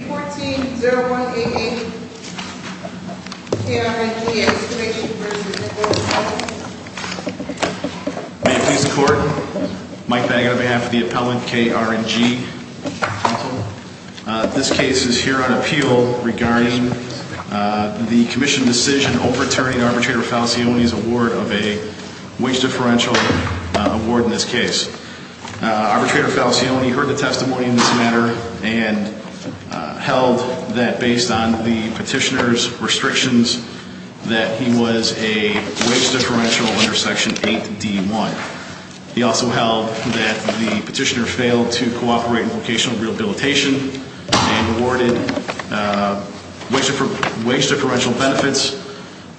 14-0188 K&R&G Excavation v. Workers' Compensation May it please the court, Mike Baggett on behalf of the appellant K&R&G Council. This case is here on appeal regarding the commission decision overturning Arbitrator Falcioni's award of a wage differential award in this case. Arbitrator Falcioni heard the testimony in this matter and held that based on the petitioner's restrictions that he was a wage differential under Section 8D1. He also held that the petitioner failed to cooperate in vocational rehabilitation and awarded wage differential benefits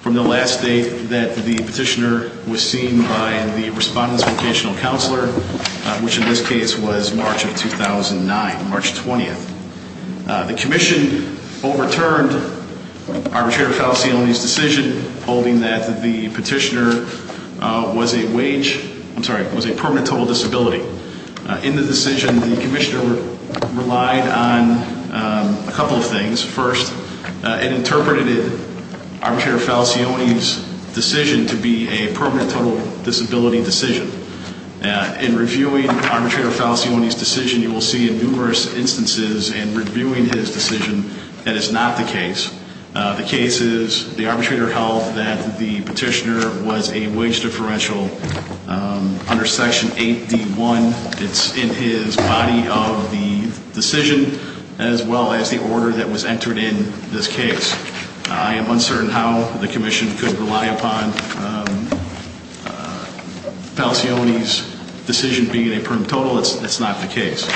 from the last date that the petitioner was seen by the respondents' vocational counselor. Which in this case was March of 2009, March 20th. The commission overturned Arbitrator Falcioni's decision holding that the petitioner was a permanent total disability. In the decision, the commissioner relied on a couple of things. First, it interpreted Arbitrator Falcioni's decision to be a permanent total disability decision. In reviewing Arbitrator Falcioni's decision, you will see in numerous instances in reviewing his decision that it's not the case. The case is the arbitrator held that the petitioner was a wage differential under Section 8D1. It's in his body of the decision as well as the order that was entered in this case. I am uncertain how the commission could rely upon Falcioni's decision being a permanent total. It's not the case.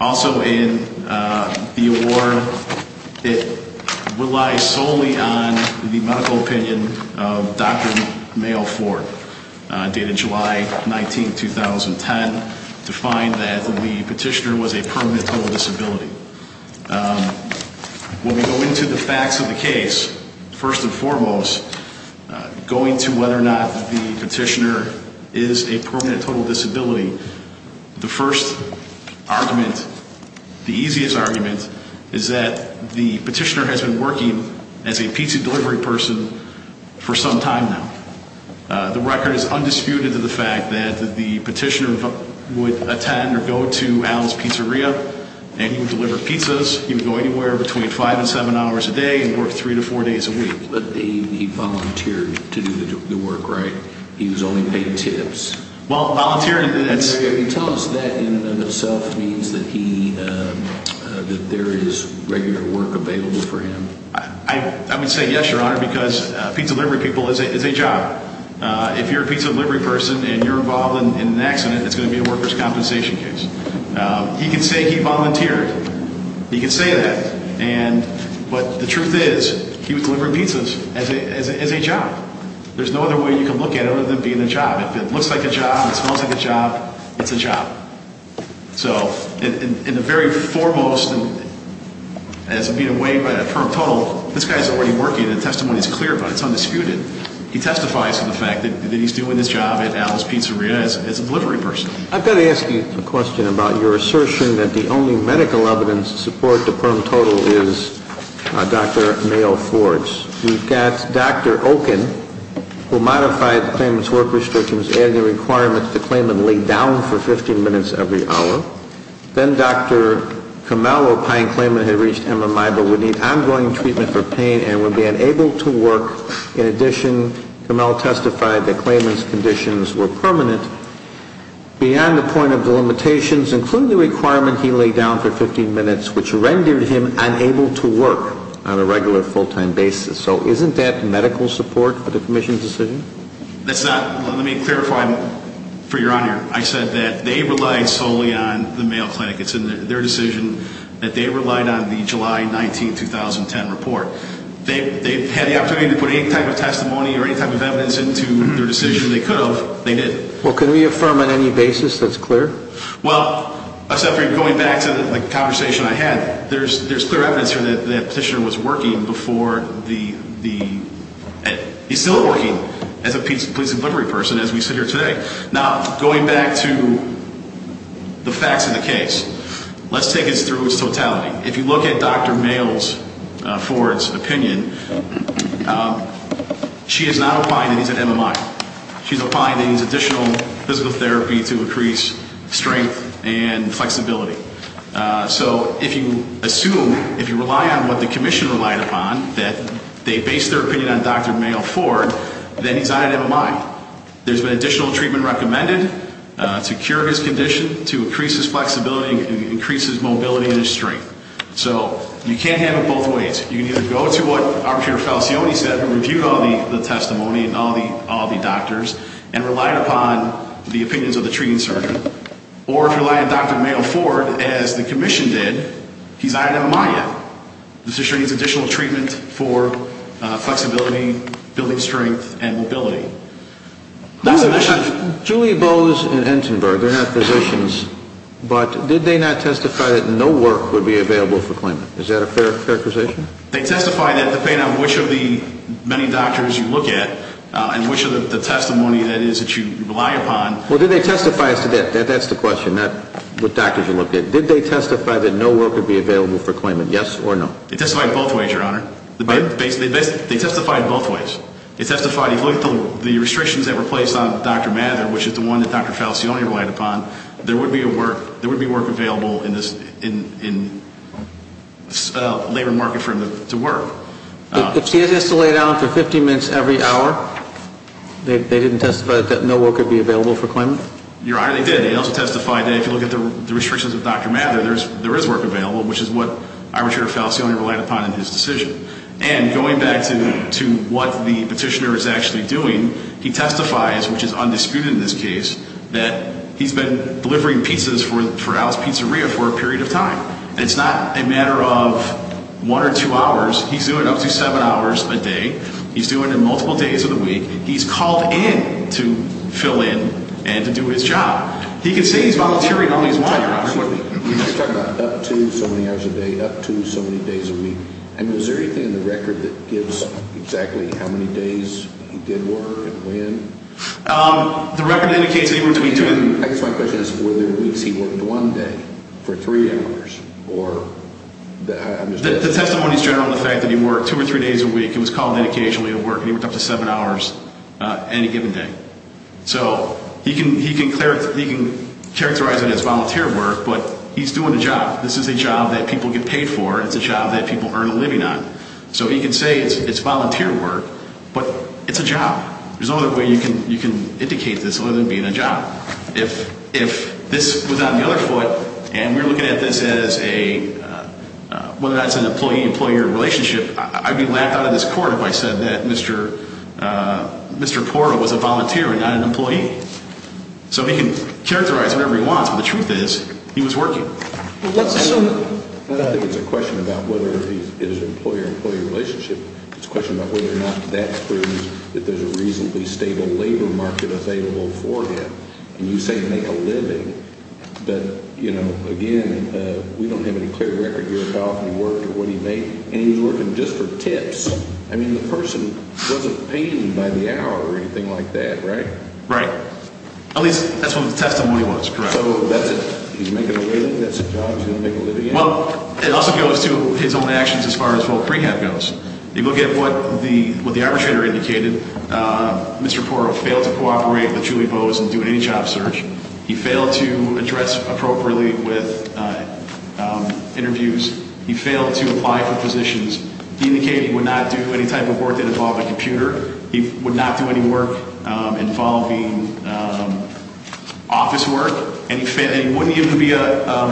Also in the award, it relies solely on the medical opinion of Dr. Mayo Ford, dated July 19, 2010, to find that the petitioner was a permanent total disability. When we go into the facts of the case, first and foremost, going to whether or not the petitioner is a permanent total disability, the first argument, the easiest argument, is that the petitioner has been working as a pizza delivery person for some time now. The record is undisputed to the fact that the petitioner would attend or go to Allen's Pizzeria and he would deliver pizzas. He would go anywhere between five and seven hours a day and work three to four days a week. But he volunteered to do the work, right? He was only paid tips. Well, volunteering... Tell us that in and of itself means that there is regular work available for him. I would say yes, Your Honor, because pizza delivery people is a job. If you're a pizza delivery person and you're involved in an accident, it's going to be a worker's compensation case. He can say he volunteered. He can say that. But the truth is, he was delivering pizzas as a job. There's no other way you can look at it other than being a job. If it looks like a job, if it smells like a job, it's a job. So, in the very foremost, as being weighed by a permanent total, this guy is already working, the testimony is clear about it, it's undisputed. He testifies to the fact that he's doing this job at Allen's Pizzeria as a delivery person. I've got to ask you a question about your assertion that the only medical evidence to support the permanent total is Dr. Mayo Ford's. You've got Dr. Oken, who modified the claimant's work restrictions, added the requirement that the claimant lay down for 15 minutes every hour. Then Dr. Kamel, a pine claimant, had reached MMI but would need ongoing treatment for pain and would be unable to work. In addition, Kamel testified that claimant's conditions were permanent. Beyond the point of the limitations, including the requirement he laid down for 15 minutes, which rendered him unable to work on a regular, full-time basis. So, isn't that medical support for the commission's decision? That's not, let me clarify for your honor. I said that they relied solely on the Mayo Clinic. It's in their decision that they relied on the July 19, 2010 report. They had the opportunity to put any type of testimony or any type of evidence into their decision. They could have, they didn't. Well, can we affirm on any basis that's clear? Well, going back to the conversation I had, there's clear evidence here that the petitioner was working before the, he's still working as a police delivery person, as we sit here today. Now, going back to the facts of the case, let's take it through its totality. If you look at Dr. Mayo's, Ford's, opinion, she is not applying that he's an MMI. She's applying that he's additional physical therapy to increase strength and flexibility. So, if you assume, if you rely on what the commission relied upon, that they based their opinion on Dr. Mayo Ford, then he's not an MMI. There's been additional treatment recommended to cure his condition, to increase his flexibility and increase his mobility and his strength. So, you can't have it both ways. You can either go to what Arbiter Falcioni said, who reviewed all the testimony and all the doctors, and relied upon the opinions of the treating surgeon, or if you rely on Dr. Mayo Ford, as the commission did, he's not an MMI yet. This is showing he needs additional treatment for flexibility, building strength, and mobility. Julia Bowes and Entenberg, they're not physicians, but did they not testify that no work would be available for claimant? Is that a fair accusation? They testified that, depending on which of the many doctors you look at, and which of the testimony that is that you rely upon. Well, did they testify, that's the question, not what doctors you looked at. Did they testify that no work would be available for claimant, yes or no? They testified both ways, Your Honor. They testified both ways. They testified, if you look at the restrictions that were placed on Dr. Mather, which is the one that Dr. Falcioni relied upon, there would be work available in the labor market for him to work. If he has to lay down for 50 minutes every hour, they didn't testify that no work would be available for claimant? Your Honor, they did. They also testified that if you look at the restrictions of Dr. Mather, there is work available, which is what Arbiter Falcioni relied upon in his decision. And going back to what the petitioner is actually doing, he testifies, which is undisputed in this case, that he's been delivering pizzas for Al's Pizzeria for a period of time. It's not a matter of one or two hours, he's doing up to seven hours a day. He's doing it multiple days of the week. He's called in to fill in and to do his job. He can say he's volunteering all he wants, Your Honor. He's talking about up to so many hours a day, up to so many days a week. And is there anything in the record that gives exactly how many days he did work and when? The record indicates anywhere between two and... I guess my question is, were there weeks he worked one day for three hours, or... The testimony is general in the fact that he worked two or three days a week, he was called in occasionally to work, and he worked up to seven hours any given day. So, he can characterize it as volunteer work, but he's doing a job. This is a job that people get paid for. It's a job that people earn a living on. So he can say it's volunteer work, but it's a job. There's no other way you can indicate this other than being a job. If this was on the other foot, and we're looking at this as a... Whether that's an employee-employee relationship, I'd be laughed out of this court if I said that Mr. Porta was a volunteer and not an employee. So he can characterize whatever he wants, but the truth is, he was working. Let's assume that... I think it's a question about whether it's an employee-employee relationship. It's a question about whether or not that proves that there's a reasonably stable labor market available for him. And you say make a living, but, you know, again, we don't have any clear record here of how often he worked or what he made. And he was working just for tips. I mean, the person wasn't paid by the hour or anything like that, right? Right. At least, that's what the testimony was, correct. So that's it? He's making a living? That's a job he's going to make a living at? Well, it also goes to his own actions as far as what rehab goes. If you look at what the arbitrator indicated, Mr. Porta failed to cooperate with Julie Bowes in doing any job search. He failed to address appropriately with interviews. He failed to apply for positions. He indicated he would not do any type of work that involved a computer. He would not do any work involving office work. And he wouldn't even be a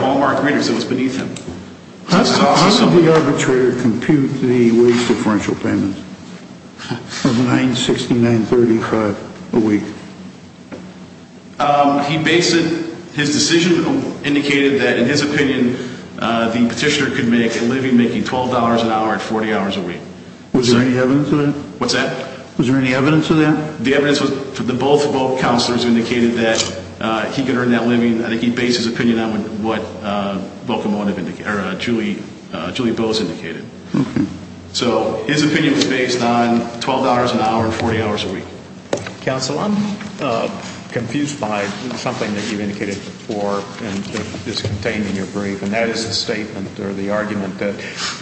Walmart greeter because it was beneath him. How does the arbitrator compute the wage differential payment of $9.6935 a week? He based it, his decision indicated that, in his opinion, the petitioner could make a living making $12 an hour at 40 hours a week. Was there any evidence of that? What's that? Was there any evidence of that? The evidence was that both counselors indicated that he could earn that living. I think he based his opinion on what Julie Bowes indicated. So his opinion was based on $12 an hour and 40 hours a week. Counsel, I'm confused by something that you indicated before and that is contained in your brief. And that is the statement or the argument that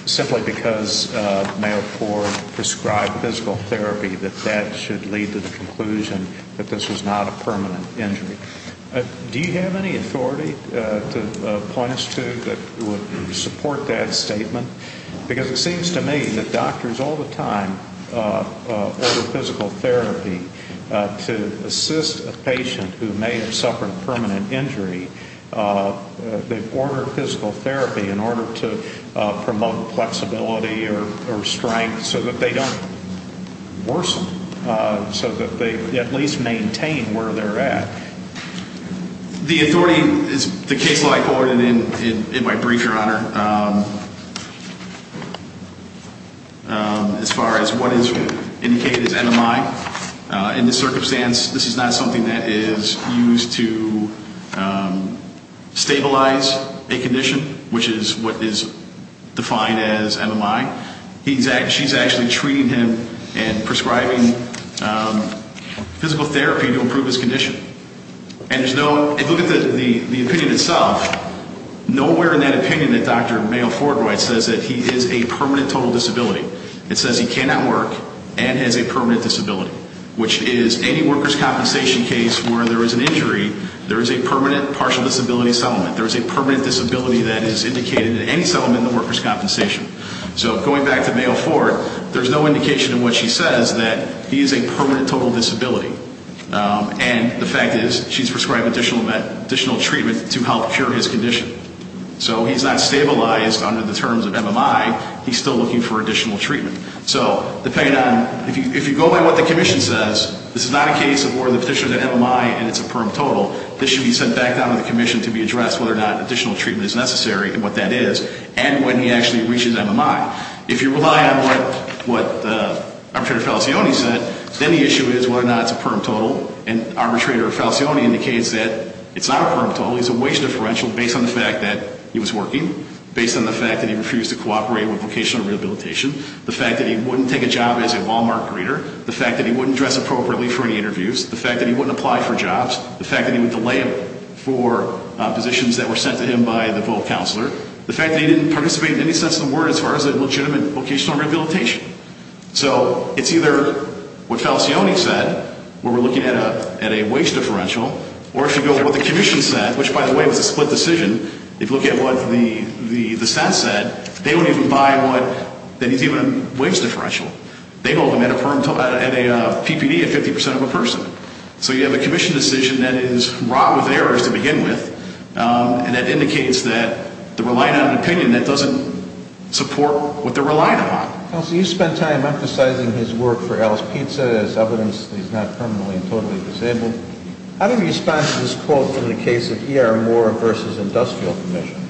simply because Mayor Ford prescribed physical therapy that that should lead to the conclusion that this was not a permanent injury. Do you have any authority to point us to that would support that statement? Because it seems to me that doctors all the time order physical therapy to assist a patient who may have suffered a permanent injury. They order physical therapy in order to promote flexibility or strength so that they don't worsen. So that they at least maintain where they're at. The authority is the case law I quoted in my brief, Your Honor. As far as what is indicated as NMI. In this circumstance, this is not something that is used to stabilize a condition which is what is defined as NMI. She's actually treating him and prescribing physical therapy to improve his condition. And if you look at the opinion itself, nowhere in that opinion that Dr. Mayor Ford writes says that he is a permanent total disability. It says he cannot work and has a permanent disability. Which is any workers' compensation case where there is an injury, there is a permanent partial disability settlement. There is a permanent disability that is indicated in any settlement in the workers' compensation. So going back to Mayor Ford, there's no indication in what she says that he is a permanent total disability. And the fact is she's prescribed additional treatment to help cure his condition. So he's not stabilized under the terms of NMI. He's still looking for additional treatment. So depending on, if you go by what the commission says, this is not a case of where the petitioner said NMI and it's a perm total. This should be sent back down to the commission to be addressed whether or not additional treatment is necessary and what that is. And when he actually reaches NMI. If you rely on what Arbitrator Falcioni said, then the issue is whether or not it's a perm total. And Arbitrator Falcioni indicates that it's not a perm total. It's a wage differential based on the fact that he was working. Based on the fact that he refused to cooperate with Vocational Rehabilitation. The fact that he wouldn't take a job as a Walmart greeter. The fact that he wouldn't dress appropriately for any interviews. The fact that he wouldn't apply for jobs. The fact that he would delay for positions that were sent to him by the vote counselor. The fact that he didn't participate in any sense of the word as far as a legitimate Vocational Rehabilitation. So it's either what Falcioni said, where we're looking at a wage differential. Or if you go to what the commission said, which by the way was a split decision. If you look at what the stat said, they wouldn't even buy what, that he's even a wage differential. They'd hold him at a PPD at 50% of a person. So you have a commission decision that is wrought with errors to begin with. And that indicates that they're relying on an opinion that doesn't support what they're relying upon. You spent time emphasizing his work for Alice Pizza as evidence that he's not permanently and totally disabled. I have a response to this quote from the case of E.R. Moore v. Industrial Commission.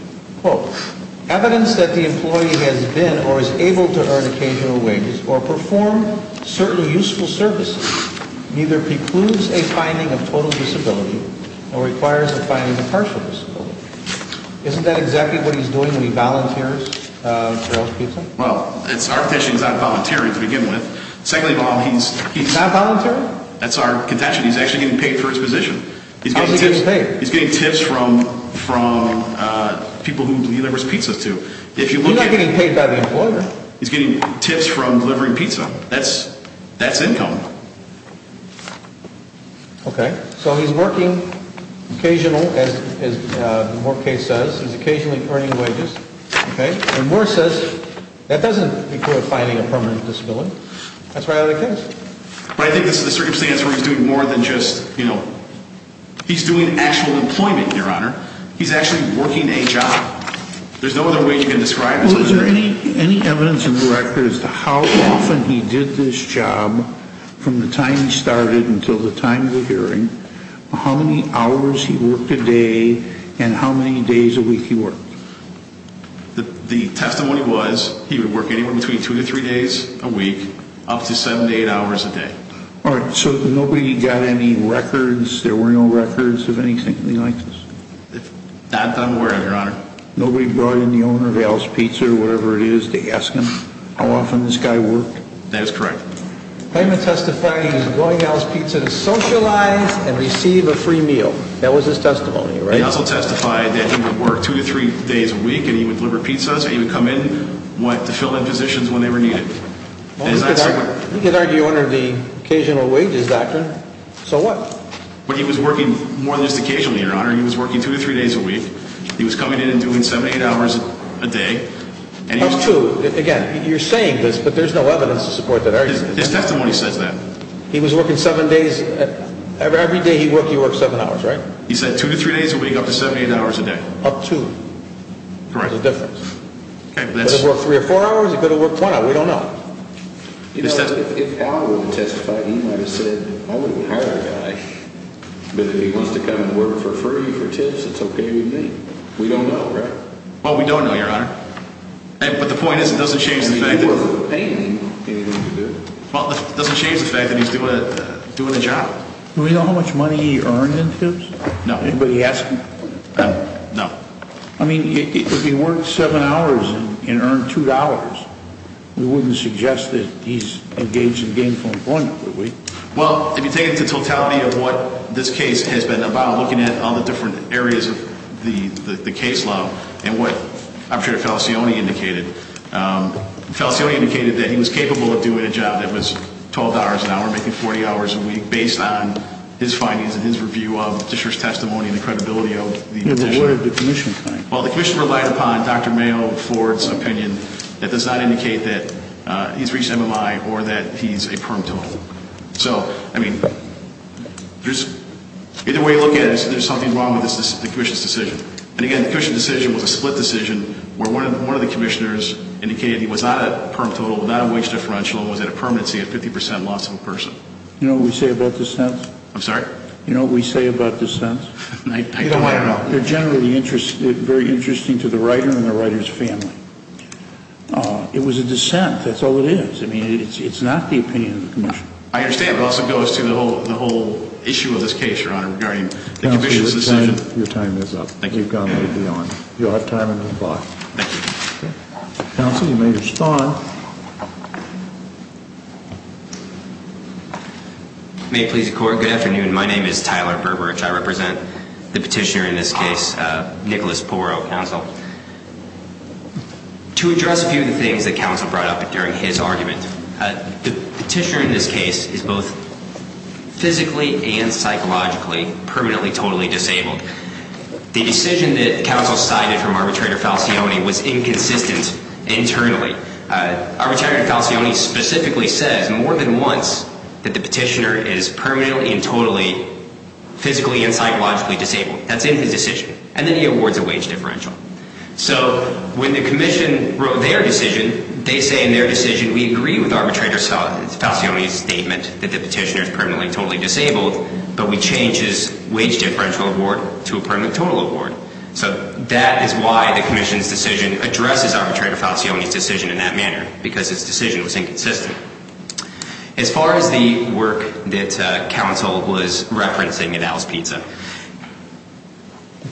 Quote, evidence that the employee has been or is able to earn occasional wages or perform certain useful services neither precludes a finding of total disability nor requires a finding of partial disability. Isn't that exactly what he's doing when he volunteers for Alice Pizza? Well, it's our position he's not volunteering to begin with. He's not volunteering? That's our contention. He's actually getting paid for his position. How is he getting paid? He's getting tips from people who he delivers pizzas to. He's not getting paid by the employer. He's getting tips from delivering pizza. That's income. Okay, so he's working occasional, as the Moore case says, he's occasionally earning wages. Okay, so Moore says that doesn't include finding a permanent disability. That's why I like this. But I think this is the circumstance where he's doing more than just, you know, he's doing actual employment, your honor. He's actually working a job. There's no other way you can describe it. Well, is there any evidence in the record as to how often he did this job from the time he started until the time of the hearing, how many hours he worked a day, and how many days a week he worked? The testimony was he would work anywhere between two to three days a week up to seven to eight hours a day. All right, so nobody got any records, there were no records of anything like this? Not that I'm aware of, your honor. Nobody brought in the owner of Al's Pizza or whatever it is to ask him how often this guy worked? That is correct. Claimant testified he was going to Al's Pizza to socialize and receive a free meal. That was his testimony, right? He also testified that he would work two to three days a week and he would deliver pizzas and he would come in to fill in positions when they were needed. He could argue under the occasional wages doctrine. So what? But he was working more than just occasionally, your honor. He was working two to three days a week. He was coming in and doing seven to eight hours a day. That's true. Again, you're saying this, but there's no evidence to support that argument. His testimony says that. He was working seven days. Every day he worked, he worked seven hours, right? He said two to three days a week, up to seven to eight hours a day. Up to. Correct. There's a difference. He could have worked three or four hours. He could have worked one hour. We don't know. If Al would have testified, he might have said, I wouldn't hire a guy, but if he wants to come and work for free for tips, it's okay with me. We don't know, right? Well, we don't know, your honor. But the point is it doesn't change the fact that he's doing a job. Do we know how much money he earned in tips? No. Anybody ask him? No. I mean, if he worked seven hours and earned two dollars, we wouldn't suggest that he's engaged in gainful employment, would we? Well, if you take the totality of what this case has been about, looking at all the different areas of the case law, and what Operator Felicioni indicated, Felicioni indicated that he was capable of doing a job that was $12 an hour, making 40 hours a week, based on his findings and his review of the petitioner's testimony and the credibility of the petitioner. What did the commission find? Well, the commission relied upon Dr. Mayo, Ford's opinion that does not indicate that he's reached MMI or that he's a perm total. So, I mean, either way you look at it, there's something wrong with the commission's decision. And again, the commission's decision was a split decision where one of the commissioners indicated he was not a perm total, not a wage differential, and was at a permanency at 50% loss of a person. You know what we say about dissents? I'm sorry? You know what we say about dissents? I don't want to know. They're generally very interesting to the writer and the writer's family. It was a dissent, that's all it is. I mean, it's not the opinion of the commission. I understand, but it also goes to the whole issue of this case, Your Honor, regarding the commission's decision. Counselor, your time is up. Thank you. You've gone way beyond. You'll have time in the box. Thank you. Counselor, you may respond. May it please the Court, good afternoon. My name is Tyler Berberich. I represent the petitioner in this case, Nicholas Porro, counsel. To address a few of the things that counsel brought up during his argument, the petitioner in this case is both physically and psychologically permanently totally disabled. The decision that counsel cited from arbitrator Falcioni was inconsistent internally. Arbitrator Falcioni specifically says more than once that the petitioner is permanently and totally physically and psychologically disabled. That's in his decision. And then he awards a wage differential. So when the commission wrote their decision, they say in their decision, we agree with arbitrator Falcioni's statement that the petitioner is permanently and totally disabled, but we change his wage differential award to a permanent total award. So that is why the commission's decision addresses arbitrator Falcioni's decision in that manner, because his decision was inconsistent. As far as the work that counsel was referencing at Alice Pizza,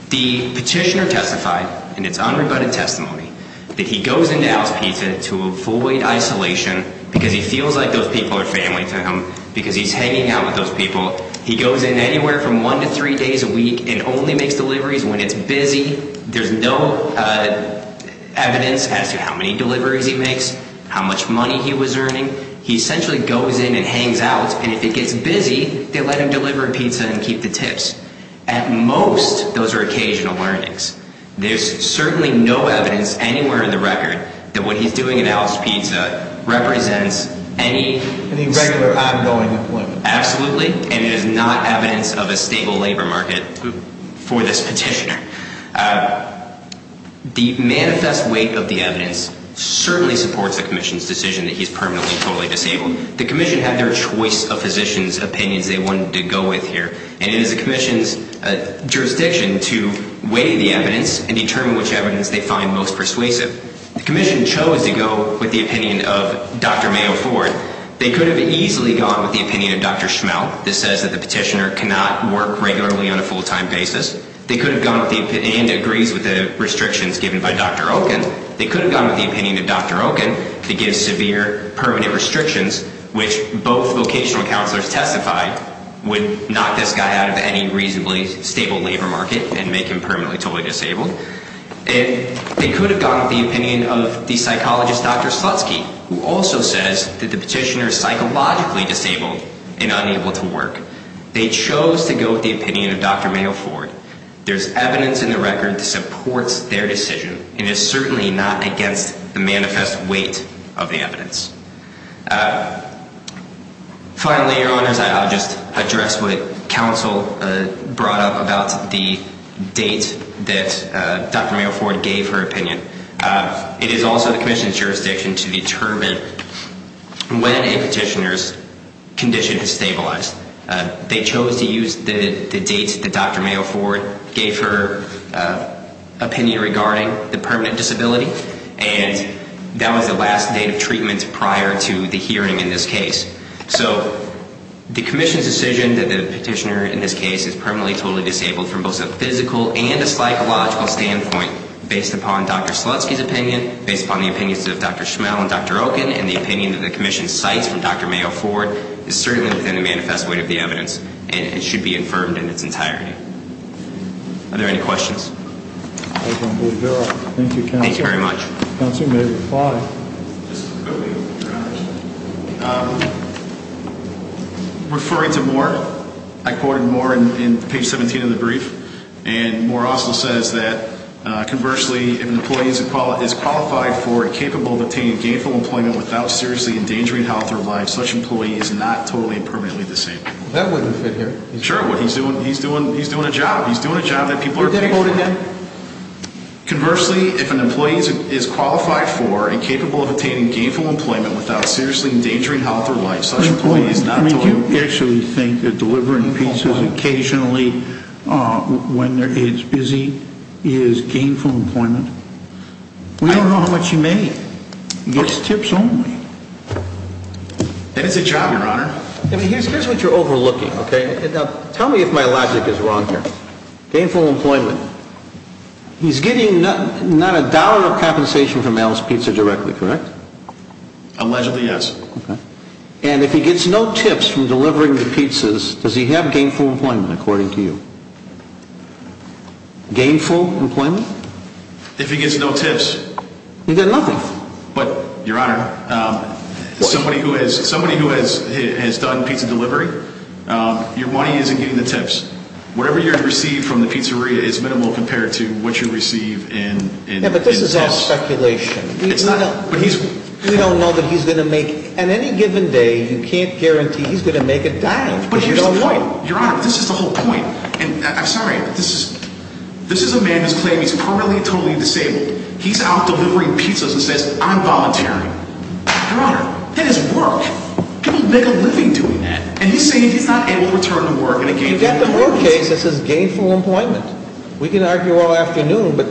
the petitioner testified in its unrebutted testimony that he goes into Alice Pizza to avoid isolation because he feels like those people are family to him because he's hanging out with those people. He goes in anywhere from one to three days a week and only makes deliveries when it's busy. There's no evidence as to how many deliveries he makes, how much money he was earning. He essentially goes in and hangs out, and if it gets busy, they let him deliver pizza and keep the tips. At most, those are occasional learnings. There's certainly no evidence anywhere in the record that what he's doing at Alice Pizza represents any... Any regular, ongoing employment. Absolutely. And it is not evidence of a stable labor market for this petitioner. The manifest weight of the evidence certainly supports the commission's decision that he's permanently, totally disabled. The commission had their choice of physicians' opinions they wanted to go with here, and it is the commission's jurisdiction to weigh the evidence and determine which evidence they find most persuasive. The commission chose to go with the opinion of Dr. Mayo Ford. They could have easily gone with the opinion of Dr. Schmell that says that the petitioner cannot work regularly on a full-time basis. They could have gone with the opinion... and agrees with the restrictions given by Dr. Oken. They could have gone with the opinion of Dr. Oken that gives severe, permanent restrictions, which both vocational counselors testified would knock this guy out of any reasonably stable labor market and make him permanently, totally disabled. They could have gone with the opinion of the psychologist Dr. Slutsky, who also says that the petitioner is psychologically disabled and unable to work. They chose to go with the opinion of Dr. Mayo Ford. There's evidence in the record that supports their decision and is certainly not against the manifest weight of the evidence. Finally, Your Honors, I'll just address what counsel brought up about the date that Dr. Mayo Ford gave her opinion. It is also the commission's jurisdiction to determine when a petitioner's condition has stabilized. They chose to use the date that Dr. Mayo Ford gave her opinion regarding the permanent disability, and that was the last date of treatment prior to the hearing in this case. So, the commission's decision that the petitioner in this case is permanently, totally disabled from both a physical and a psychological standpoint, based upon Dr. Slutsky's opinion, based upon the opinions of Dr. Schmel and Dr. Oken, and the opinion that the commission cites from Dr. Mayo Ford, is certainly within the manifest weight of the evidence and should be affirmed in its entirety. Are there any questions? I don't believe there are. Thank you, counsel. Thank you very much. Counsel, you may reply. Referring to Moore, I quoted Moore in page 17 of the brief, and Moore also says that, conversely, if an employee is qualified for and capable of obtaining gainful employment without seriously endangering health or life, such an employee is not totally and permanently disabled. That wouldn't fit here. Sure it would. He's doing a job. He's doing a job that people are capable of. You didn't quote him. Conversely, if an employee is qualified for and capable of obtaining gainful employment without seriously endangering health or life, such an employee is not totally disabled. I mean, do you actually think that delivering pieces occasionally when it's busy is gainful employment? We don't know how much he made. It's tips only. And it's a job, Your Honor. Here's what you're overlooking. Tell me if my logic is wrong here. Gainful employment. He's getting not a dollar of compensation for Mel's Pizza directly, correct? Allegedly, yes. And if he gets no tips from delivering the pizzas, does he have gainful employment, according to you? Gainful employment? If he gets no tips. He gets nothing. But, Your Honor, somebody who has done pizza delivery, your money isn't getting the tips. Whatever you receive from the pizzeria is minimal compared to what you receive in tips. Yeah, but this is all speculation. We don't know that he's going to make... On any given day, you can't guarantee he's going to make a dime. But here's the point. Your Honor, this is the whole point. I'm sorry, but this is a man who claims he's permanently and totally disabled. He's out delivering pizzas and says, I'm volunteering. Your Honor, that is work. People make a living doing that. And he's saying he's not able to return to work in a gainful employment. You've got the whole case that says gainful employment. We can argue all afternoon, but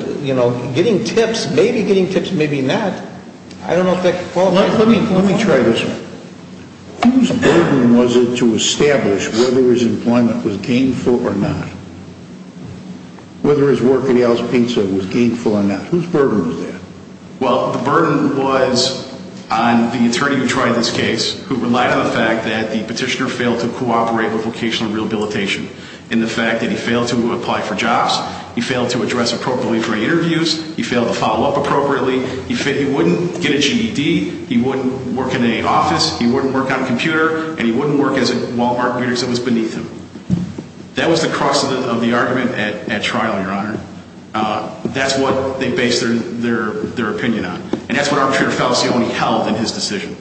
getting tips, maybe getting tips, maybe not, I don't know if that qualifies as gainful employment. Let me try this one. Whose burden was it to establish whether his employment was gainful or not? Whether his work at Al's Pizza was gainful or not? Whose burden was that? Well, the burden was on the attorney who tried this case who relied on the fact that the petitioner failed to cooperate with vocational rehabilitation in the fact that he failed to apply for jobs, he failed to address appropriately for interviews, he failed to follow up appropriately, he wouldn't get a GED, he wouldn't work in an office, he wouldn't work on a computer, and he wouldn't work as a Walmart waiter because it was beneath him. That was the crux of the argument at trial, Your Honor. That's what they based their opinion on. And that's what Arbitrator Falcioni held in his decision.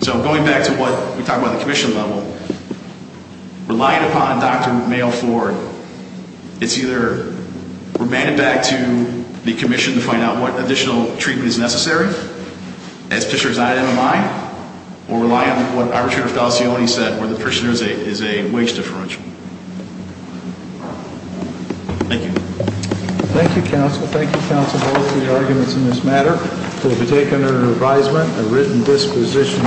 So, going back to what we talked about at the commission level, relying upon Dr. Mayo-Ford is either remanding back to the commission to find out what additional treatment is necessary as petitioner's not an MMI, or relying on what Arbitrator Falcioni said where the petitioner is a wage differential. Thank you. Thank you, counsel. Thank you, counsel, for all of your arguments in this matter. It will be taken under advisement and written disposition.